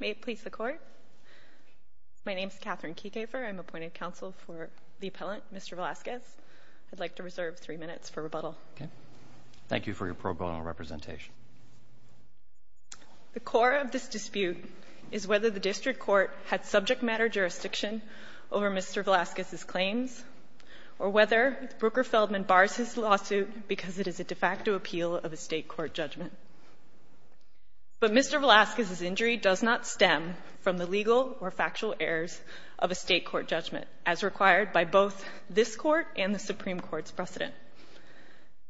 May it please the Court? My name is Katherine Keegaver. I'm appointed counsel for the appellant, Mr. Velazquez. I'd like to reserve three minutes for rebuttal. Thank you for your pro bono representation. The core of this dispute is whether the district court had subject matter jurisdiction over Mr. Velazquez's claims or whether Brooker Feldman bars his lawsuit because it is a de facto appeal of a state court judgment. But Mr. Velazquez's injury does not stem from the legal or factual errors of a state court judgment as required by both this court and the Supreme Court's precedent.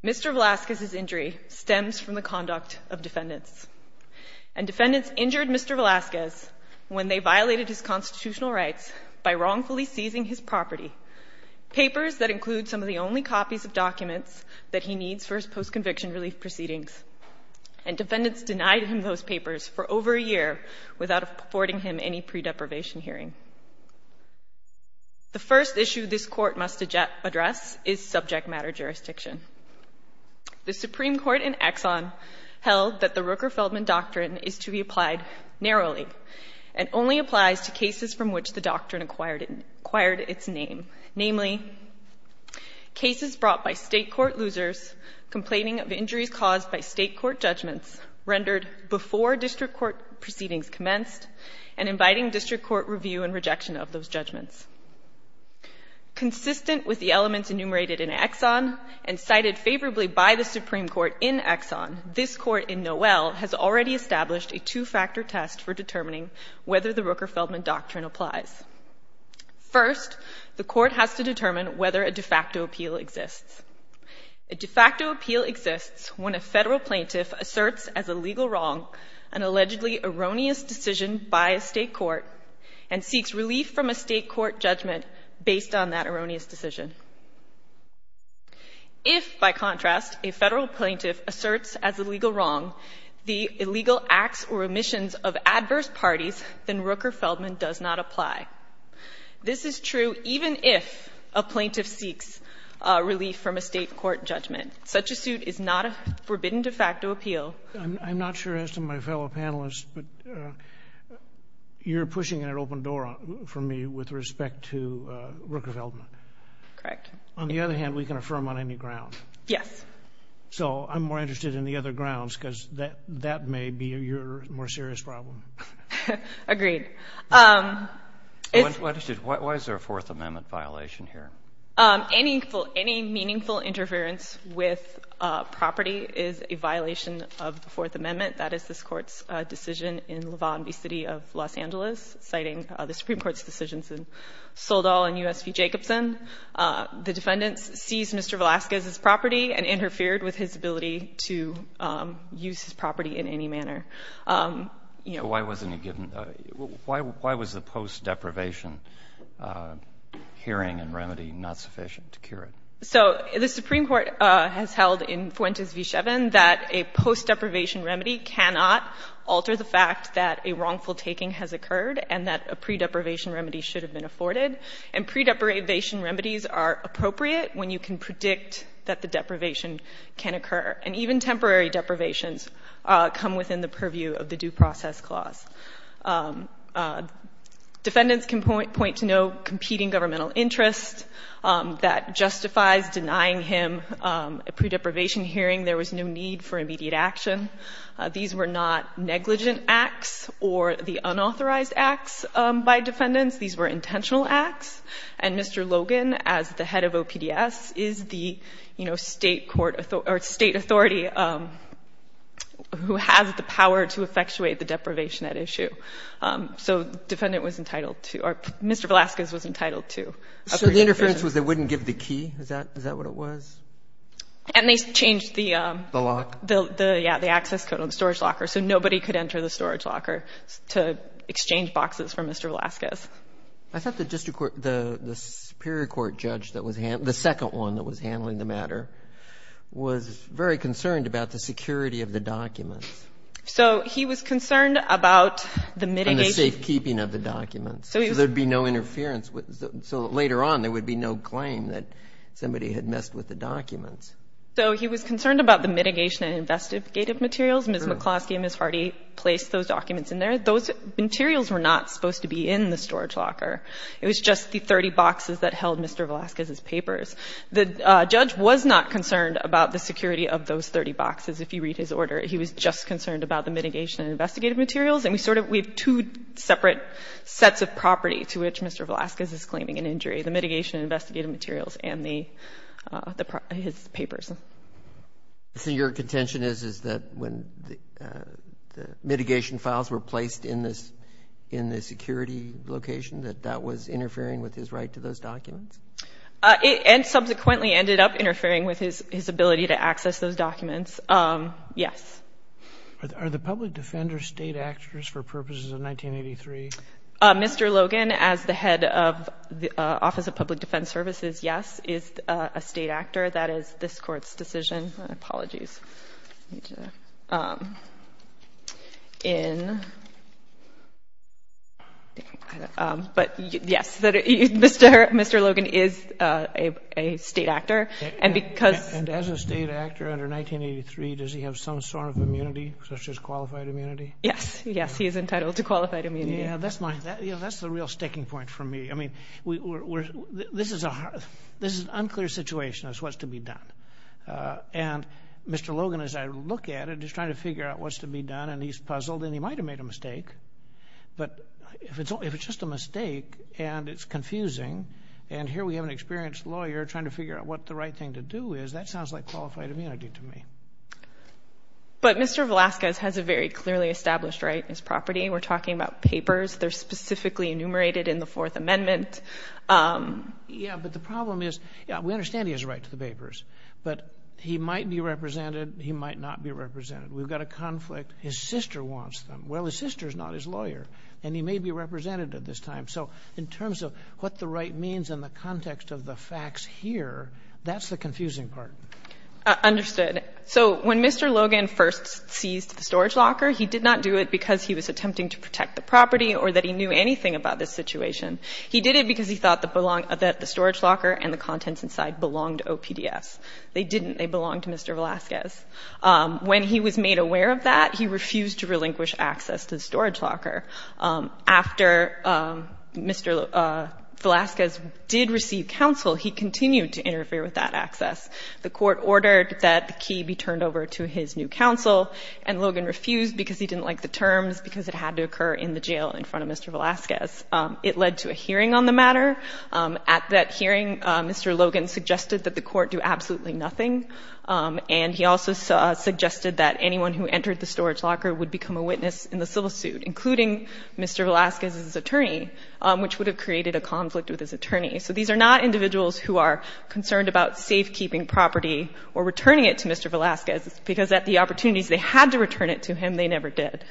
Mr. Velazquez's injury stems from the conduct of defendants and defendants injured Mr. Velazquez when they violated his constitutional rights by wrongfully seizing his property. Papers that include some of the only copies of documents that he needs for his post-conviction relief proceedings. And defendants denied him those papers for over a year without affording him any pre-deprivation hearing. The first issue this court must address is subject matter jurisdiction. The Supreme Court in Exxon held that the Rooker Feldman doctrine is to be applied narrowly and only applies to cases from which the doctrine acquired its name. Namely, cases brought by state court losers complaining of injuries caused by state court judgments rendered before district court proceedings commenced and inviting district court review and rejection of those judgments. Consistent with the elements enumerated in Exxon and cited favorably by the Supreme Court in Exxon, this court in Noel has already established a two-factor test for determining whether the Rooker Feldman doctrine applies. First, the court has to determine whether a de facto appeal exists. A de facto appeal exists when a federal plaintiff asserts as a legal wrong an allegedly erroneous decision by a state court and seeks relief from a state court judgment based on that erroneous decision. If, by contrast, a federal plaintiff asserts as a legal wrong the illegal acts or omissions of adverse parties, then a plaintiff seeks relief from a state court judgment. Such a suit is not a forbidden de facto appeal. I'm not sure as to my fellow panelists, but you're pushing it at open door for me with respect to Rooker Feldman. Correct. On the other hand, we can affirm on any ground. Yes. So I'm more interested in the other grounds because that may be your more serious problem. Agreed. Why is there a Fourth Amendment violation here? Any meaningful interference with property is a violation of the Fourth Amendment. That is this Court's decision in Lavonby City of Los Angeles, citing the Supreme Court's decisions in Soldall and U.S. v. Jacobson. The defendants seized Mr. Velasquez's property and interfered with his ability to use his property in any manner. Why was the post-deprivation hearing and remedy not sufficient to cure it? So the Supreme Court has held in Fuentes v. Shevin that a post-deprivation remedy cannot alter the fact that a wrongful taking has occurred and that a pre-deprivation remedy should have been afforded. And pre-deprivation remedies are appropriate when you can predict that the deprivation can occur. And even temporary deprivations come within the purview of the Due Process Clause. Defendants can point to no competing governmental interest that justifies denying him a pre-deprivation hearing. There was no need for immediate action. These were not negligent acts or the unauthorized acts by defendants. These were intentional acts. And Mr. Logan, as the head of OPDS, is the, you know, State court or State authority who has the power to effectuate the deprivation at issue. So the defendant was entitled to or Mr. Velasquez was entitled to a pre-deprivation hearing. So the interference was they wouldn't give the key? Is that what it was? And they changed the lock. The, yeah, the access code on the storage locker. So nobody could enter the storage locker to exchange boxes for Mr. Velasquez. I thought the Superior Court judge that was handling, the second one that was handling the matter, was very concerned about the security of the documents. So he was concerned about the mitigation. And the safekeeping of the documents. So there would be no interference. So later on there would be no claim that somebody had messed with the documents. So he was concerned about the mitigation and investigative materials. Ms. McCloskey and Ms. Hardy placed those documents in there. Those materials were not supposed to be in the storage locker. It was just the 30 boxes that held Mr. Velasquez's papers. The judge was not concerned about the security of those 30 boxes, if you read his order. He was just concerned about the mitigation and investigative materials. And we sort of, we have two separate sets of property to which Mr. Velasquez is claiming an injury, the mitigation and investigative materials and the, his papers. So your contention is, is that when the mitigation files were placed in this, in the security location, that that was interfering with his right to those documents? It subsequently ended up interfering with his ability to access those documents. Yes. Are the public defenders state actors for purposes of 1983? Mr. Logan, as the head of the Office of Public Defense Services, yes, is a state actor. That is this Court's decision. Apologies. But, yes, Mr. Logan is a state actor. And because- And as a state actor under 1983, does he have some sort of immunity, such as qualified immunity? Yes. Yes, he is entitled to qualified immunity. Yeah, that's my, that's the real sticking point for me. I mean, this is an unclear situation as to what's to be done. And Mr. Logan, as I look at it, is trying to figure out what's to be done, and he's puzzled, and he might have made a mistake. But if it's just a mistake and it's confusing, and here we have an experienced lawyer trying to figure out what the right thing to do is, that sounds like qualified immunity to me. But Mr. Velasquez has a very clearly established right in his property. We're talking about papers. They're specifically enumerated in the Fourth Amendment. Yeah, but the problem is, we understand he has a right to the papers, but he might be represented, he might not be represented. We've got a conflict. His sister wants them. Well, his sister is not his lawyer, and he may be represented at this time. So in terms of what the right means in the context of the facts here, that's the confusing part. Understood. So when Mr. Logan first seized the storage locker, he did not do it because he was attempting to protect the property or that he knew anything about this situation. He did it because he thought that the storage locker and the contents inside belonged to OPDS. They didn't. They belonged to Mr. Velasquez. When he was made aware of that, he refused to relinquish access to the storage locker. After Mr. Velasquez did receive counsel, he continued to interfere with that access. The court ordered that the key be turned over to his new counsel, and Logan refused because he didn't like the terms, because it had to occur in the jail in front of Mr. Velasquez. It led to a hearing on the matter. At that hearing, Mr. Logan suggested that the court do absolutely nothing, and he also suggested that anyone who entered the storage locker would become a witness in the civil suit, including Mr. Velasquez's attorney, which would have created a conflict with his attorney. So these are not individuals who are concerned about safekeeping property or returning it to Mr. Velasquez, because at the opportunities they had to return it to him, they never did.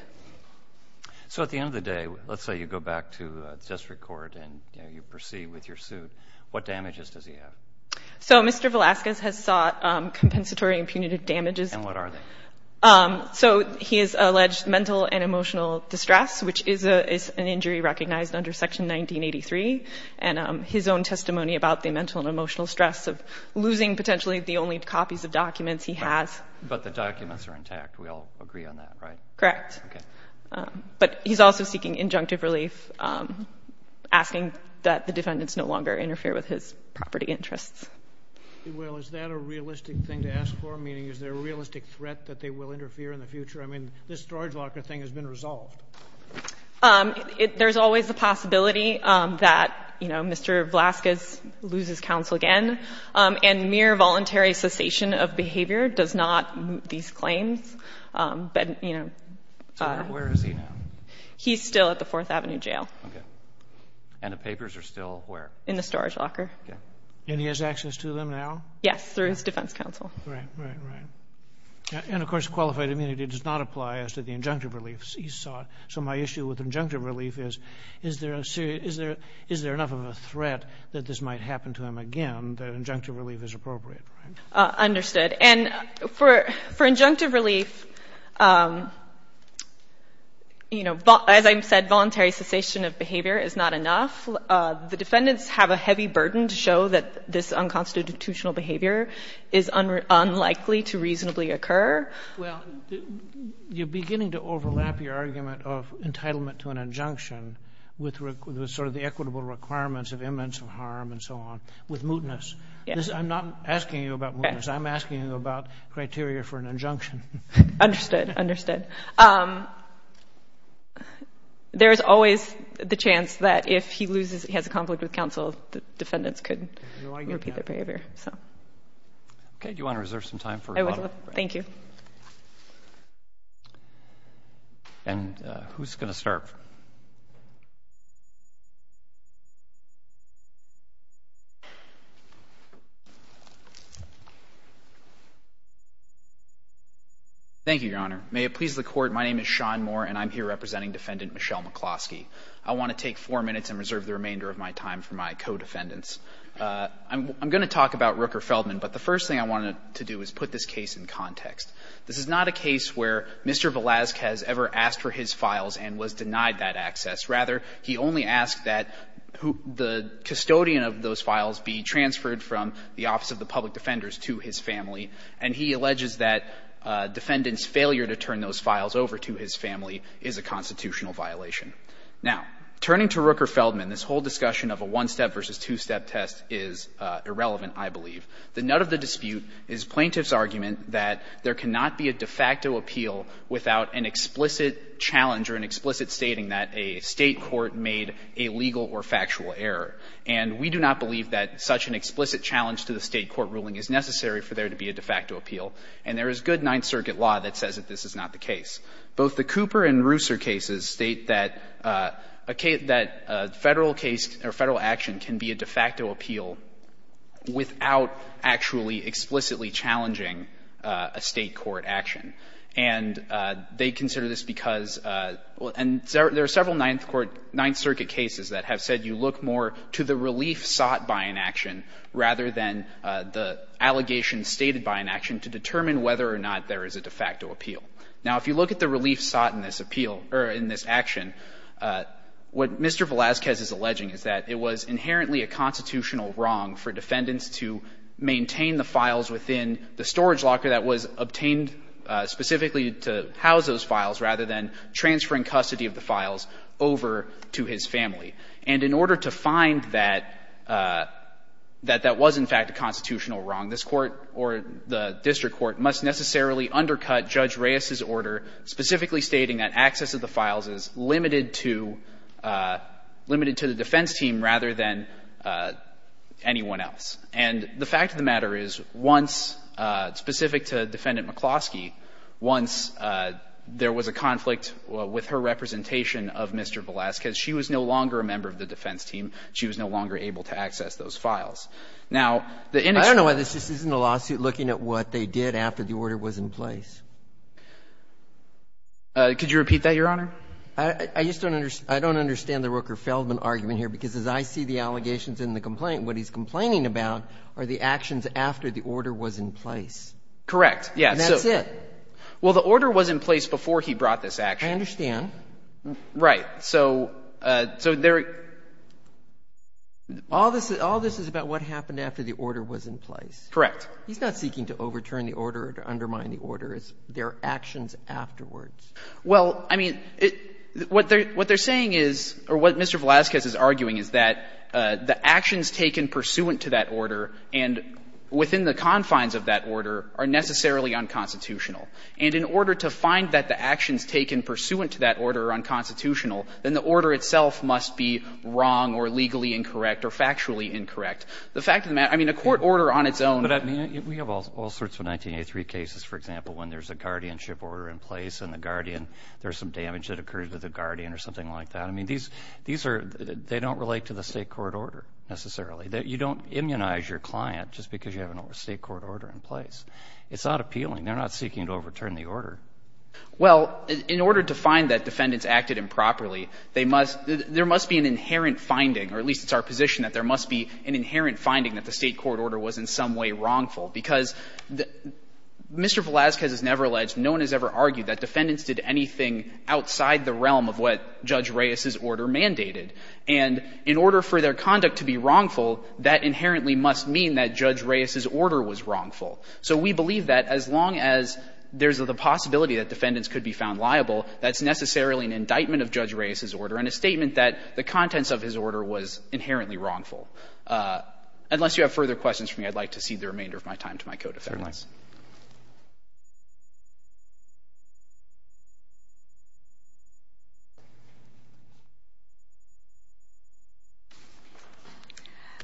So at the end of the day, let's say you go back to district court and you proceed with your suit. What damages does he have? So Mr. Velasquez has sought compensatory and punitive damages. And what are they? So he is alleged mental and emotional distress, which is an injury recognized under Section 1983, and his own testimony about the mental and emotional stress of losing potentially the only copies of documents he has. But the documents are intact. We all agree on that, right? Correct. Okay. But he's also seeking injunctive relief, asking that the defendants no longer interfere with his property interests. Well, is that a realistic thing to ask for, meaning is there a realistic threat that they will interfere in the future? I mean, this storage locker thing has been resolved. There's always the possibility that, you know, Mr. Velasquez loses counsel again, and mere voluntary cessation of behavior does not move these claims. But, you know. So where is he now? He's still at the Fourth Avenue Jail. Okay. And the papers are still where? In the storage locker. Okay. And he has access to them now? Yes, through his defense counsel. Right, right, right. And, of course, qualified immunity does not apply as to the injunctive relief he sought. So my issue with injunctive relief is, is there enough of a threat that this might happen to him again, that injunctive relief is appropriate, right? Understood. And for injunctive relief, you know, as I said, voluntary cessation of behavior is not enough. The defendants have a heavy burden to show that this unconstitutional behavior is unlikely to reasonably occur. Well, you're beginning to overlap your argument of entitlement to an injunction with sort of the equitable requirements of imminence of harm and so on with mootness. Yes. I'm not asking you about mootness. I'm asking you about criteria for an injunction. Understood, understood. There is always the chance that if he loses, he has a conflict with counsel, the defendants could repeat their behavior, so. Okay. Do you want to reserve some time for rebuttal? I would love to. Thank you. And who's going to start? Thank you, Your Honor. May it please the Court, my name is Sean Moore, and I'm here representing Defendant Michelle McCloskey. I want to take four minutes and reserve the remainder of my time for my co-defendants. I'm going to talk about Rooker-Feldman, but the first thing I wanted to do is put this case in context. This is not a case where Mr. Velazquez ever asked for his files and was denied that access. Rather, he only asked that the custodian of those files be transferred from the Office of the Public Defenders to his family, and he alleges that defendants' failure to turn those files over to his family is a constitutional violation. Now, turning to Rooker-Feldman, this whole discussion of a one-step versus two-step test is irrelevant, I believe. The nut of the dispute is plaintiff's argument that there cannot be a de facto appeal without an explicit challenge or an explicit stating that a State court made a legal or factual error. And we do not believe that such an explicit challenge to the State court ruling is necessary for there to be a de facto appeal. And there is good Ninth Circuit law that says that this is not the case. Both the Cooper and Reusser cases state that a Federal case or Federal action can be a de facto appeal without actually explicitly challenging a State court action. And they consider this because, and there are several Ninth Court, Ninth Circuit cases that have said you look more to the relief sought by an action rather than the allegation stated by an action to determine whether or not there is a de facto appeal. Now, if you look at the relief sought in this appeal or in this action, what Mr. Velazquez is alleging is that it was inherently a constitutional wrong for defendants to maintain the files within the storage locker that was obtained specifically to house those files rather than transferring custody of the files over to his family. And in order to find that that that was, in fact, a constitutional wrong, this Court or the district court must necessarily undercut Judge Reuss's order specifically stating that access of the files is limited to the defense team rather than anyone else. And the fact of the matter is, once, specific to Defendant McCloskey, once there was a conflict with her representation of Mr. Velazquez, she was no longer a member of the defense team, she was no longer able to access those files. Now, the inexplicable. I don't know why this just isn't a lawsuit looking at what they did after the order was in place. Could you repeat that, Your Honor? I just don't understand. I don't understand the Rooker-Feldman argument here, because as I see the allegations in the complaint, what he's complaining about are the actions after the order was in place. Correct. Yes. And that's it. Well, the order was in place before he brought this action. I understand. Right. So they're – All this is about what happened after the order was in place. Correct. He's not seeking to overturn the order or undermine the order. It's their actions afterwards. Well, I mean, what they're saying is, or what Mr. Velazquez is arguing, is that the actions taken pursuant to that order and within the confines of that order are necessarily unconstitutional. And in order to find that the actions taken pursuant to that order are unconstitutional, then the order itself must be wrong or legally incorrect or factually incorrect. The fact of the matter – I mean, a court order on its own – But, I mean, we have all sorts of 1983 cases, for example, when there's a guardianship order in place and the guardian – there's some damage that occurred to the guardian or something like that. I mean, these are – they don't relate to the state court order necessarily. You don't immunize your client just because you have a state court order in place. It's not appealing. They're not seeking to overturn the order. Well, in order to find that defendants acted improperly, they must – there must be an inherent finding, or at least it's our position that there must be an inherent finding that the state court order was in some way wrongful, because Mr. Velazquez has never alleged, no one has ever argued that defendants did anything outside the realm of what Judge Reyes's order mandated. And in order for their conduct to be wrongful, that inherently must mean that Judge Reyes's order was wrongful. So we believe that as long as there's the possibility that defendants could be found liable, that's necessarily an indictment of Judge Reyes's order and a statement that the contents of his order was inherently wrongful. Unless you have further questions for me, I'd like to cede the remainder of my time to my co-defendants. Roberts.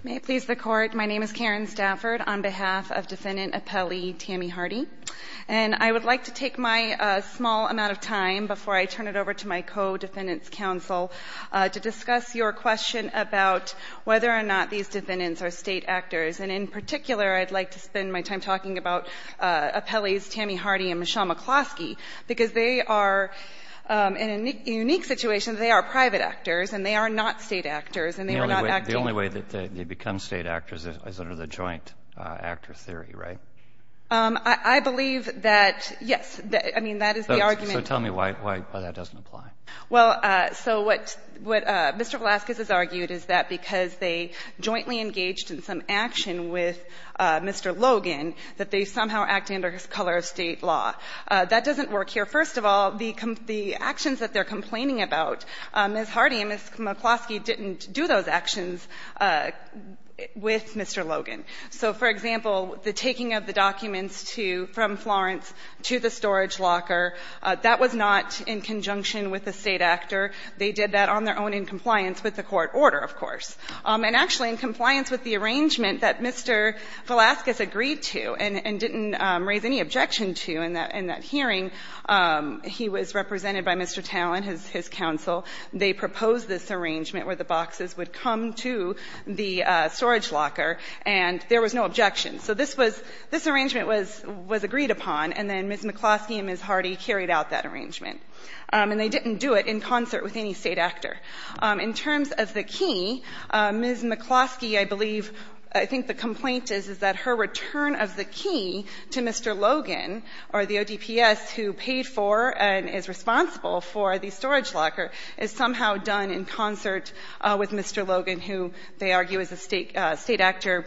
May it please the Court. My name is Karen Stafford on behalf of Defendant Appellee Tammy Hardy. And I would like to take my small amount of time before I turn it over to my co-defendants counsel to discuss your question about whether or not these defendants are state actors. And in particular, I'd like to spend my time talking about Appellee's Tammy Hardy and Michelle McCloskey, because they are, in a unique situation, they are private actors and they are not state actors and they are not acting. The only way that they become state actors is under the joint actor theory, right? I believe that, yes. I mean, that is the argument. So tell me why that doesn't apply. Well, so what Mr. Velazquez has argued is that because they jointly engaged in some action with Mr. Logan, that they somehow act under his color of state law. That doesn't work here. First of all, the actions that they are complaining about, Ms. Hardy and Ms. McCloskey didn't do those actions with Mr. Logan. So, for example, the taking of the documents to the storage locker, that was not in conjunction with a state actor. They did that on their own in compliance with the court order, of course. And actually in compliance with the arrangement that Mr. Velazquez agreed to and didn't raise any objection to in that hearing, he was represented by Mr. Talen, his counsel. They proposed this arrangement where the boxes would come to the storage locker and there was no objection. So this was, this arrangement was agreed upon and then Ms. McCloskey and Ms. Hardy carried out that arrangement. And they didn't do it in concert with any state actor. In terms of the key, Ms. McCloskey, I believe, I think the complaint is, is that her return of the key to Mr. Logan or the ODPS who paid for and is responsible for the storage locker is somehow done in concert with Mr. Logan, who they argue is a state actor.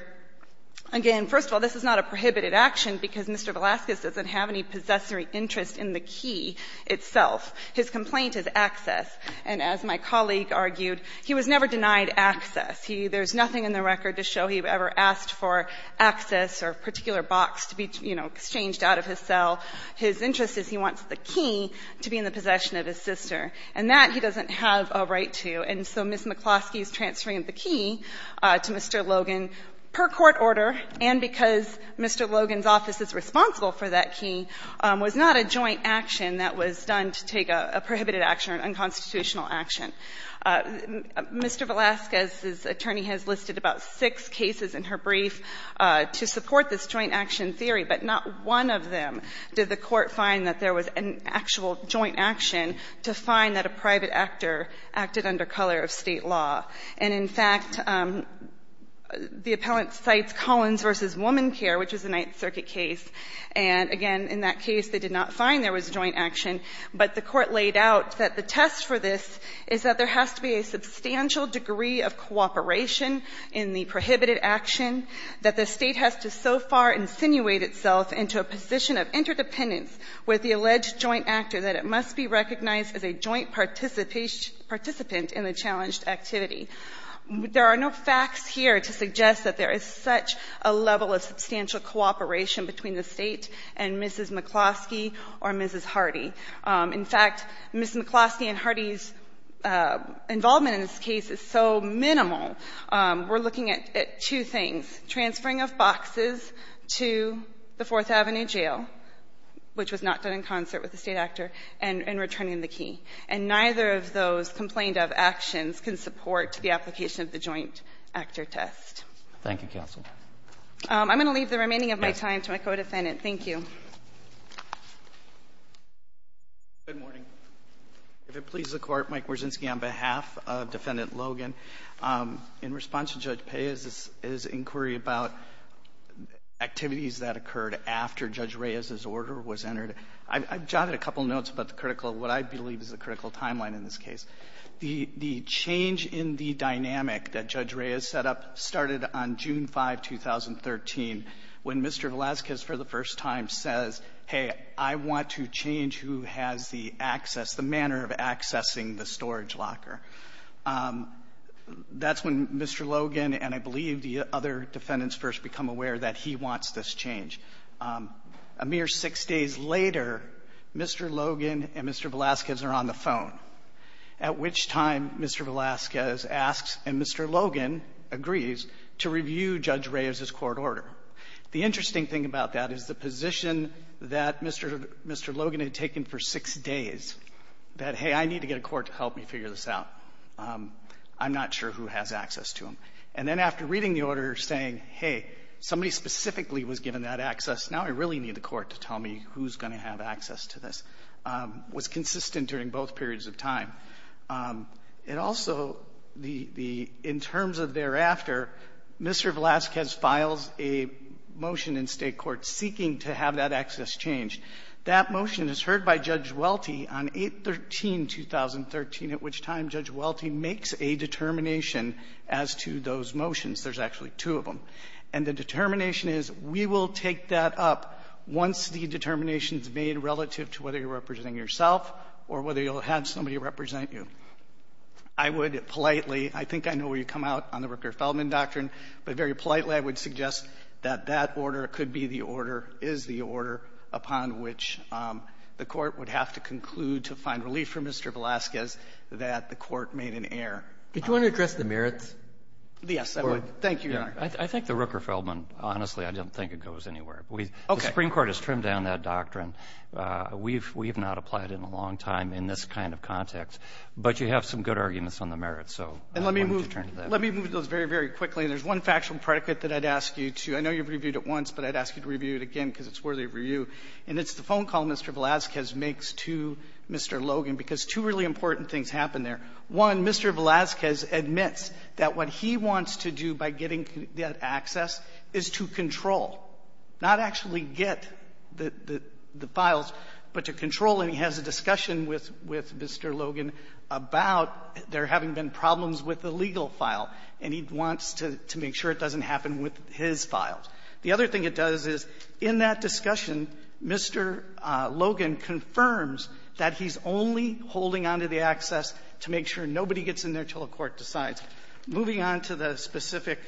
Again, first of all, this is not a prohibited action because Mr. Velazquez doesn't have any possessory interest in the key itself. His complaint is access. And as my colleague argued, he was never denied access. There's nothing in the record to show he ever asked for access or a particular box to be, you know, exchanged out of his cell. His interest is he wants the key to be in the possession of his sister. And that he doesn't have a right to. And so Ms. McCloskey's transferring the key to Mr. Logan per court order, and because Mr. Logan's office is responsible for that key, was not a joint action that was done to take a prohibited action or an unconstitutional action. Mr. Velazquez's attorney has listed about six cases in her brief to support this joint action theory, but not one of them did the court find that there was an actual joint action to find that a private actor acted under color of State law. And in fact, the appellant cites Collins v. Womancare, which is a Ninth Circuit case, and again, in that case, they did not find there was joint action. But the court laid out that the test for this is that there has to be a substantial degree of cooperation in the prohibited action, that the State has to so far insinuate itself into a position of interdependence with the alleged joint actor that it must be recognized as a joint participant in the challenged activity. There are no facts here to suggest that there is such a level of substantial cooperation between the State and Mrs. McCloskey or Mrs. Hardy. In fact, Ms. McCloskey and Hardy's involvement in this case is so minimal, we're looking at two things, transferring of boxes to the Fourth Avenue Jail, which was not done in concert with the State actor, and returning the key. And neither of those complained of actions can support the application of the joint actor test. Roberts. Thank you, counsel. I'm going to leave the remaining of my time to my co-defendant. Thank you. Good morning. If it pleases the Court, Mike Wierzinski, on behalf of Defendant Logan. In response to Judge Paye's inquiry about activities that occurred after Judge Reyes's order was entered, I've jotted a couple notes about the critical, what I believe is the critical timeline in this case. The change in the dynamic that Judge Reyes set up started on June 5, 2013, when Mr. Velazquez for the first time says, hey, I want to change who has the access, the manner of accessing the storage locker. That's when Mr. Logan and I believe the other defendants first become aware that he wants this change. A mere six days later, Mr. Logan and Mr. Velazquez are on the phone. At which time, Mr. Velazquez asks and Mr. Logan agrees to review Judge Reyes's court order. The interesting thing about that is the position that Mr. Logan had taken for six days, that, hey, I need to get a court to help me figure this out. I'm not sure who has access to him. And then after reading the order saying, hey, somebody specifically was given that access, now I really need the court to tell me who's going to have access to this, was consistent during both periods of time. And also, in terms of thereafter, Mr. Velazquez files a motion in state court seeking to have that access changed. That motion is heard by Judge Welty on 8-13-2013, at which time Judge Welty makes a determination as to those motions. There's actually two of them. And the determination is, we will take that up once the determination is made relative to whether you're representing yourself or whether you'll have somebody represent you. I would politely, I think I know where you come out on the Rooker-Feldman doctrine, but very politely I would suggest that that order could be the order, is the order, upon which the court would have to conclude to find relief for Mr. Velazquez that the court made an error. Did you want to address the merits? Yes, I would. Thank you, Your Honor. I think the Rooker-Feldman, honestly, I don't think it goes anywhere. Okay. The Supreme Court has trimmed down that doctrine. We've not applied it in a long time in this kind of context. But you have some good arguments on the merits, so I wanted to turn to that. And let me move those very, very quickly. And there's one factual predicate that I'd ask you to, I know you've reviewed it once, but I'd ask you to review it again because it's worthy of review. And it's the phone call Mr. Velazquez makes to Mr. Logan because two really important things happen there. One, Mr. Velazquez admits that what he wants to do by getting that access is to control, not actually get the files, but to control, and he has a discussion with Mr. Logan about there having been problems with the legal file. And he wants to make sure it doesn't happen with his files. The other thing it does is, in that discussion, Mr. Logan confirms that he's only holding on to the access to make sure nobody gets in there until a court decides. Moving on to the specific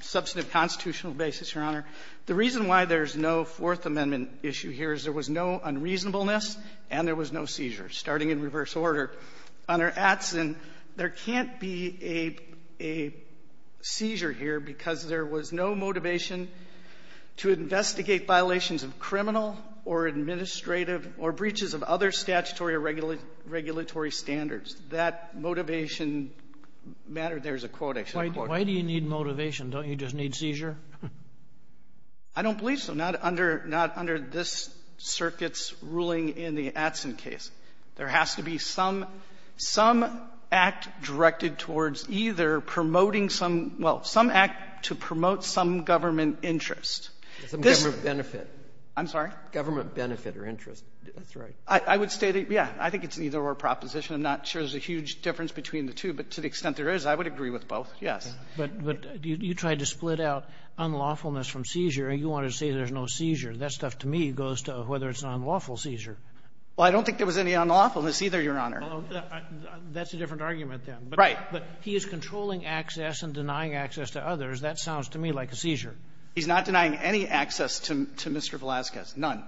substantive constitutional basis, Your Honor, the reason why there's no Fourth Amendment issue here is there was no unreasonableness and there was no seizure, starting in reverse order. Under Atsin, there can't be a seizure here because there was no motivation to investigate violations of criminal or administrative or breaches of other statutory or regulatory standards. That motivation matter, there's a quote I should quote. Why do you need motivation? Don't you just need seizure? I don't believe so. Not under this circuit's ruling in the Atsin case. There has to be some act directed towards either promoting some, well, some act to promote some government interest. Some government benefit. I'm sorry? Government benefit or interest. That's right. I would say that, yeah, I think it's an either-or proposition. I'm not sure there's a huge difference between the two, but to the extent there is, I would agree with both, yes. But you tried to split out unlawfulness from seizure, and you wanted to say there's no seizure. That stuff to me goes to whether it's an unlawful seizure. Well, I don't think there was any unlawfulness either, Your Honor. That's a different argument, then. Right. But he is controlling access and denying access to others. That sounds to me like a seizure. He's not denying any access to Mr. Velazquez, none.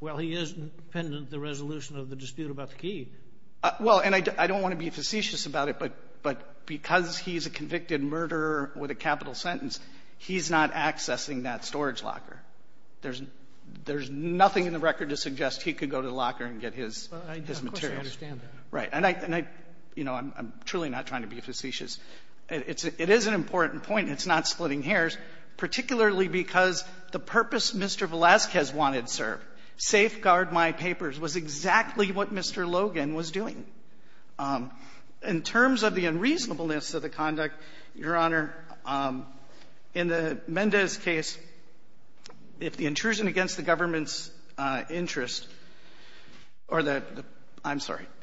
Well, he is pendent the resolution of the dispute about the key. Well, and I don't want to be facetious about it, but because he's a convicted murderer with a capital sentence, he's not accessing that storage locker. There's nothing in the record to suggest he could go to the locker and get his materials. Of course I understand that. Right. And I'm truly not trying to be facetious. It is an important point, and it's not splitting hairs, particularly because the purpose Mr. Velazquez wanted served, safeguard my papers, was exactly what Mr. Logan was doing. In terms of the unreasonableness of the conduct, Your Honor, in the Mendez case, if the intrusion against the government's interest or the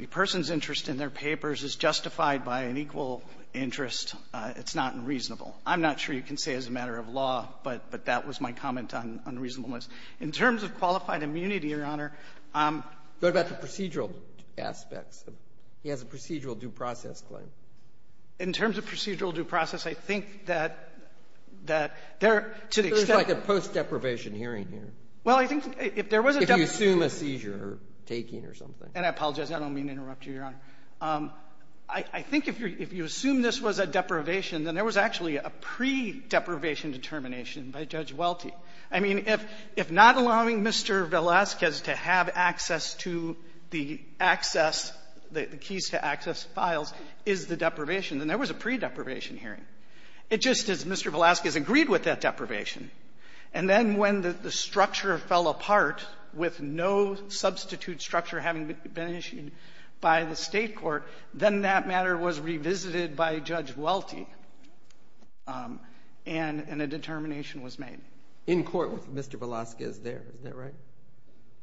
person's interest in their papers is justified by an equal interest, it's not unreasonable. I'm not sure you can say it's a matter of law, but that was my comment on unreasonableness. In terms of qualified immunity, Your Honor — What about the procedural aspects? He has a procedural due process claim. In terms of procedural due process, I think that there, to the extent — It's like a post-deprivation hearing here. Well, I think if there was a — If you assume a seizure or taking or something. And I apologize. I don't mean to interrupt you, Your Honor. I think if you assume this was a deprivation, then there was actually a pre-deprivation determination by Judge Welty. I mean, if not allowing Mr. Velazquez to have access to the access, the keys to access files is the deprivation, then there was a pre-deprivation hearing. It just is Mr. Velazquez agreed with that deprivation. And then when the structure fell apart with no substitute structure having been issued by the state court, then that matter was revisited by Judge Welty. And a determination was made. In court with Mr. Velazquez there, is that right?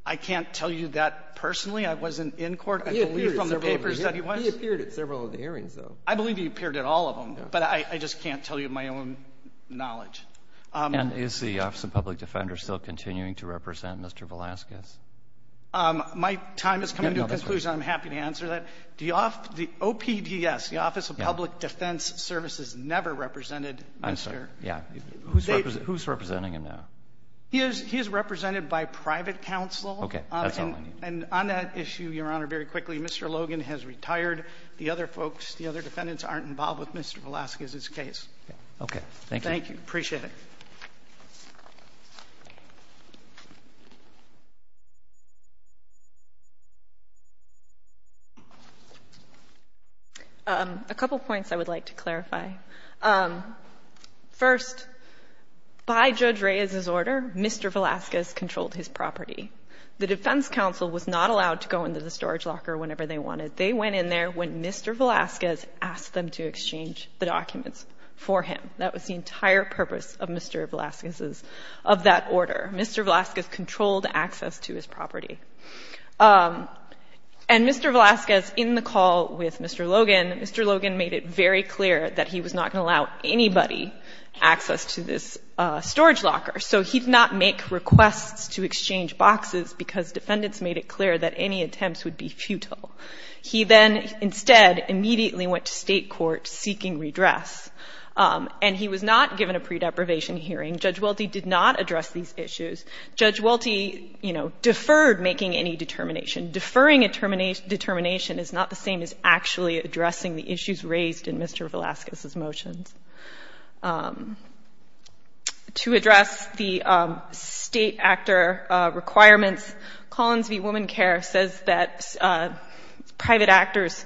I can't tell you that personally. I wasn't in court. He appeared at several of the hearings, though. I believe he appeared at all of them. But I just can't tell you my own knowledge. And is the Office of Public Defender still continuing to represent Mr. Velazquez? My time is coming to a conclusion. I'm happy to answer that. The OPDS, the Office of Public Defense Services, never represented Mr. Yeah. Who's representing him now? He is represented by private counsel. Okay. That's all I need. And on that issue, Your Honor, very quickly, Mr. Logan has retired. The other folks, the other defendants aren't involved with Mr. Velazquez's case. Okay. Thank you. Thank you. Appreciate it. A couple points I would like to clarify. First, by Judge Reyes's order, Mr. Velazquez controlled his property. The defense counsel was not allowed to go into the storage locker whenever they wanted. They went in there when Mr. Velazquez asked them to exchange the documents for him. That was the entire purpose of Mr. Velazquez's, of that order. Mr. Velazquez controlled access to his property. And Mr. Velazquez, in the call with Mr. Logan, Mr. Logan made it very clear that he was not going to allow anybody access to this storage locker. So he did not make requests to exchange boxes because defendants made it clear that any attempts would be futile. He then, instead, immediately went to state court seeking redress. And he was not given a pre-deprivation hearing. Judge Welty did not address these issues. Judge Welty, you know, deferred making any determination. Deferring a determination is not the same as actually addressing the issues raised in Mr. Velazquez's motions. To address the state actor requirements, Collins v. Woman Care says that private actors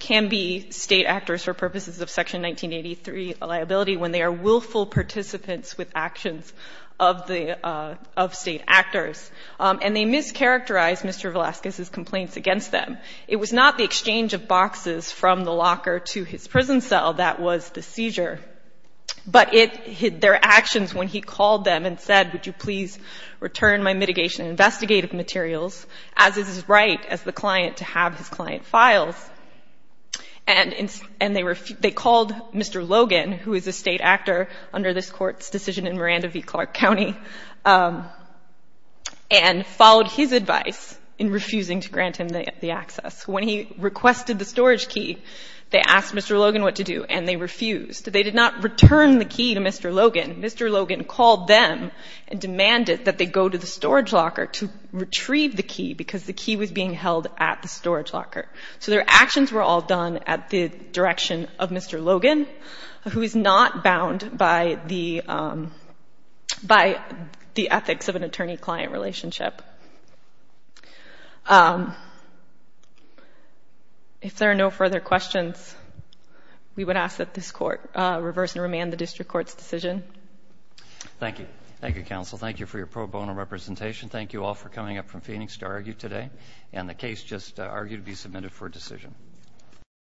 can be state actors for purposes of Section 1983 liability when they are willful participants with actions of the, of state actors. And they mischaracterized Mr. Velazquez's complaints against them. It was not the exchange of boxes from the locker to his prison cell that was the seizure. But it, their actions when he called them and said, would you please return my mitigation investigative materials, as is his right as the client to have his client files. And, and they were, they called Mr. Logan, who is a state actor under this court's decision in Miranda v. Clark County, and followed his advice in refusing to grant him the access. When he requested the storage key, they asked Mr. Logan what to do, and they refused. They did not return the key to Mr. Logan. Mr. Logan called them and demanded that they go to the storage locker to retrieve the key because the key was being held at the storage locker. So their actions were all done at the direction of Mr. Logan, who is not bound by the, by the ethics of an attorney-client relationship. If there are no further questions, we would ask that this court reverse and remand the district court's decision. Thank you. Thank you, counsel. Thank you for your pro bono representation. Thank you all for coming up from Phoenix to argue today. And the case just argued to be submitted for decision.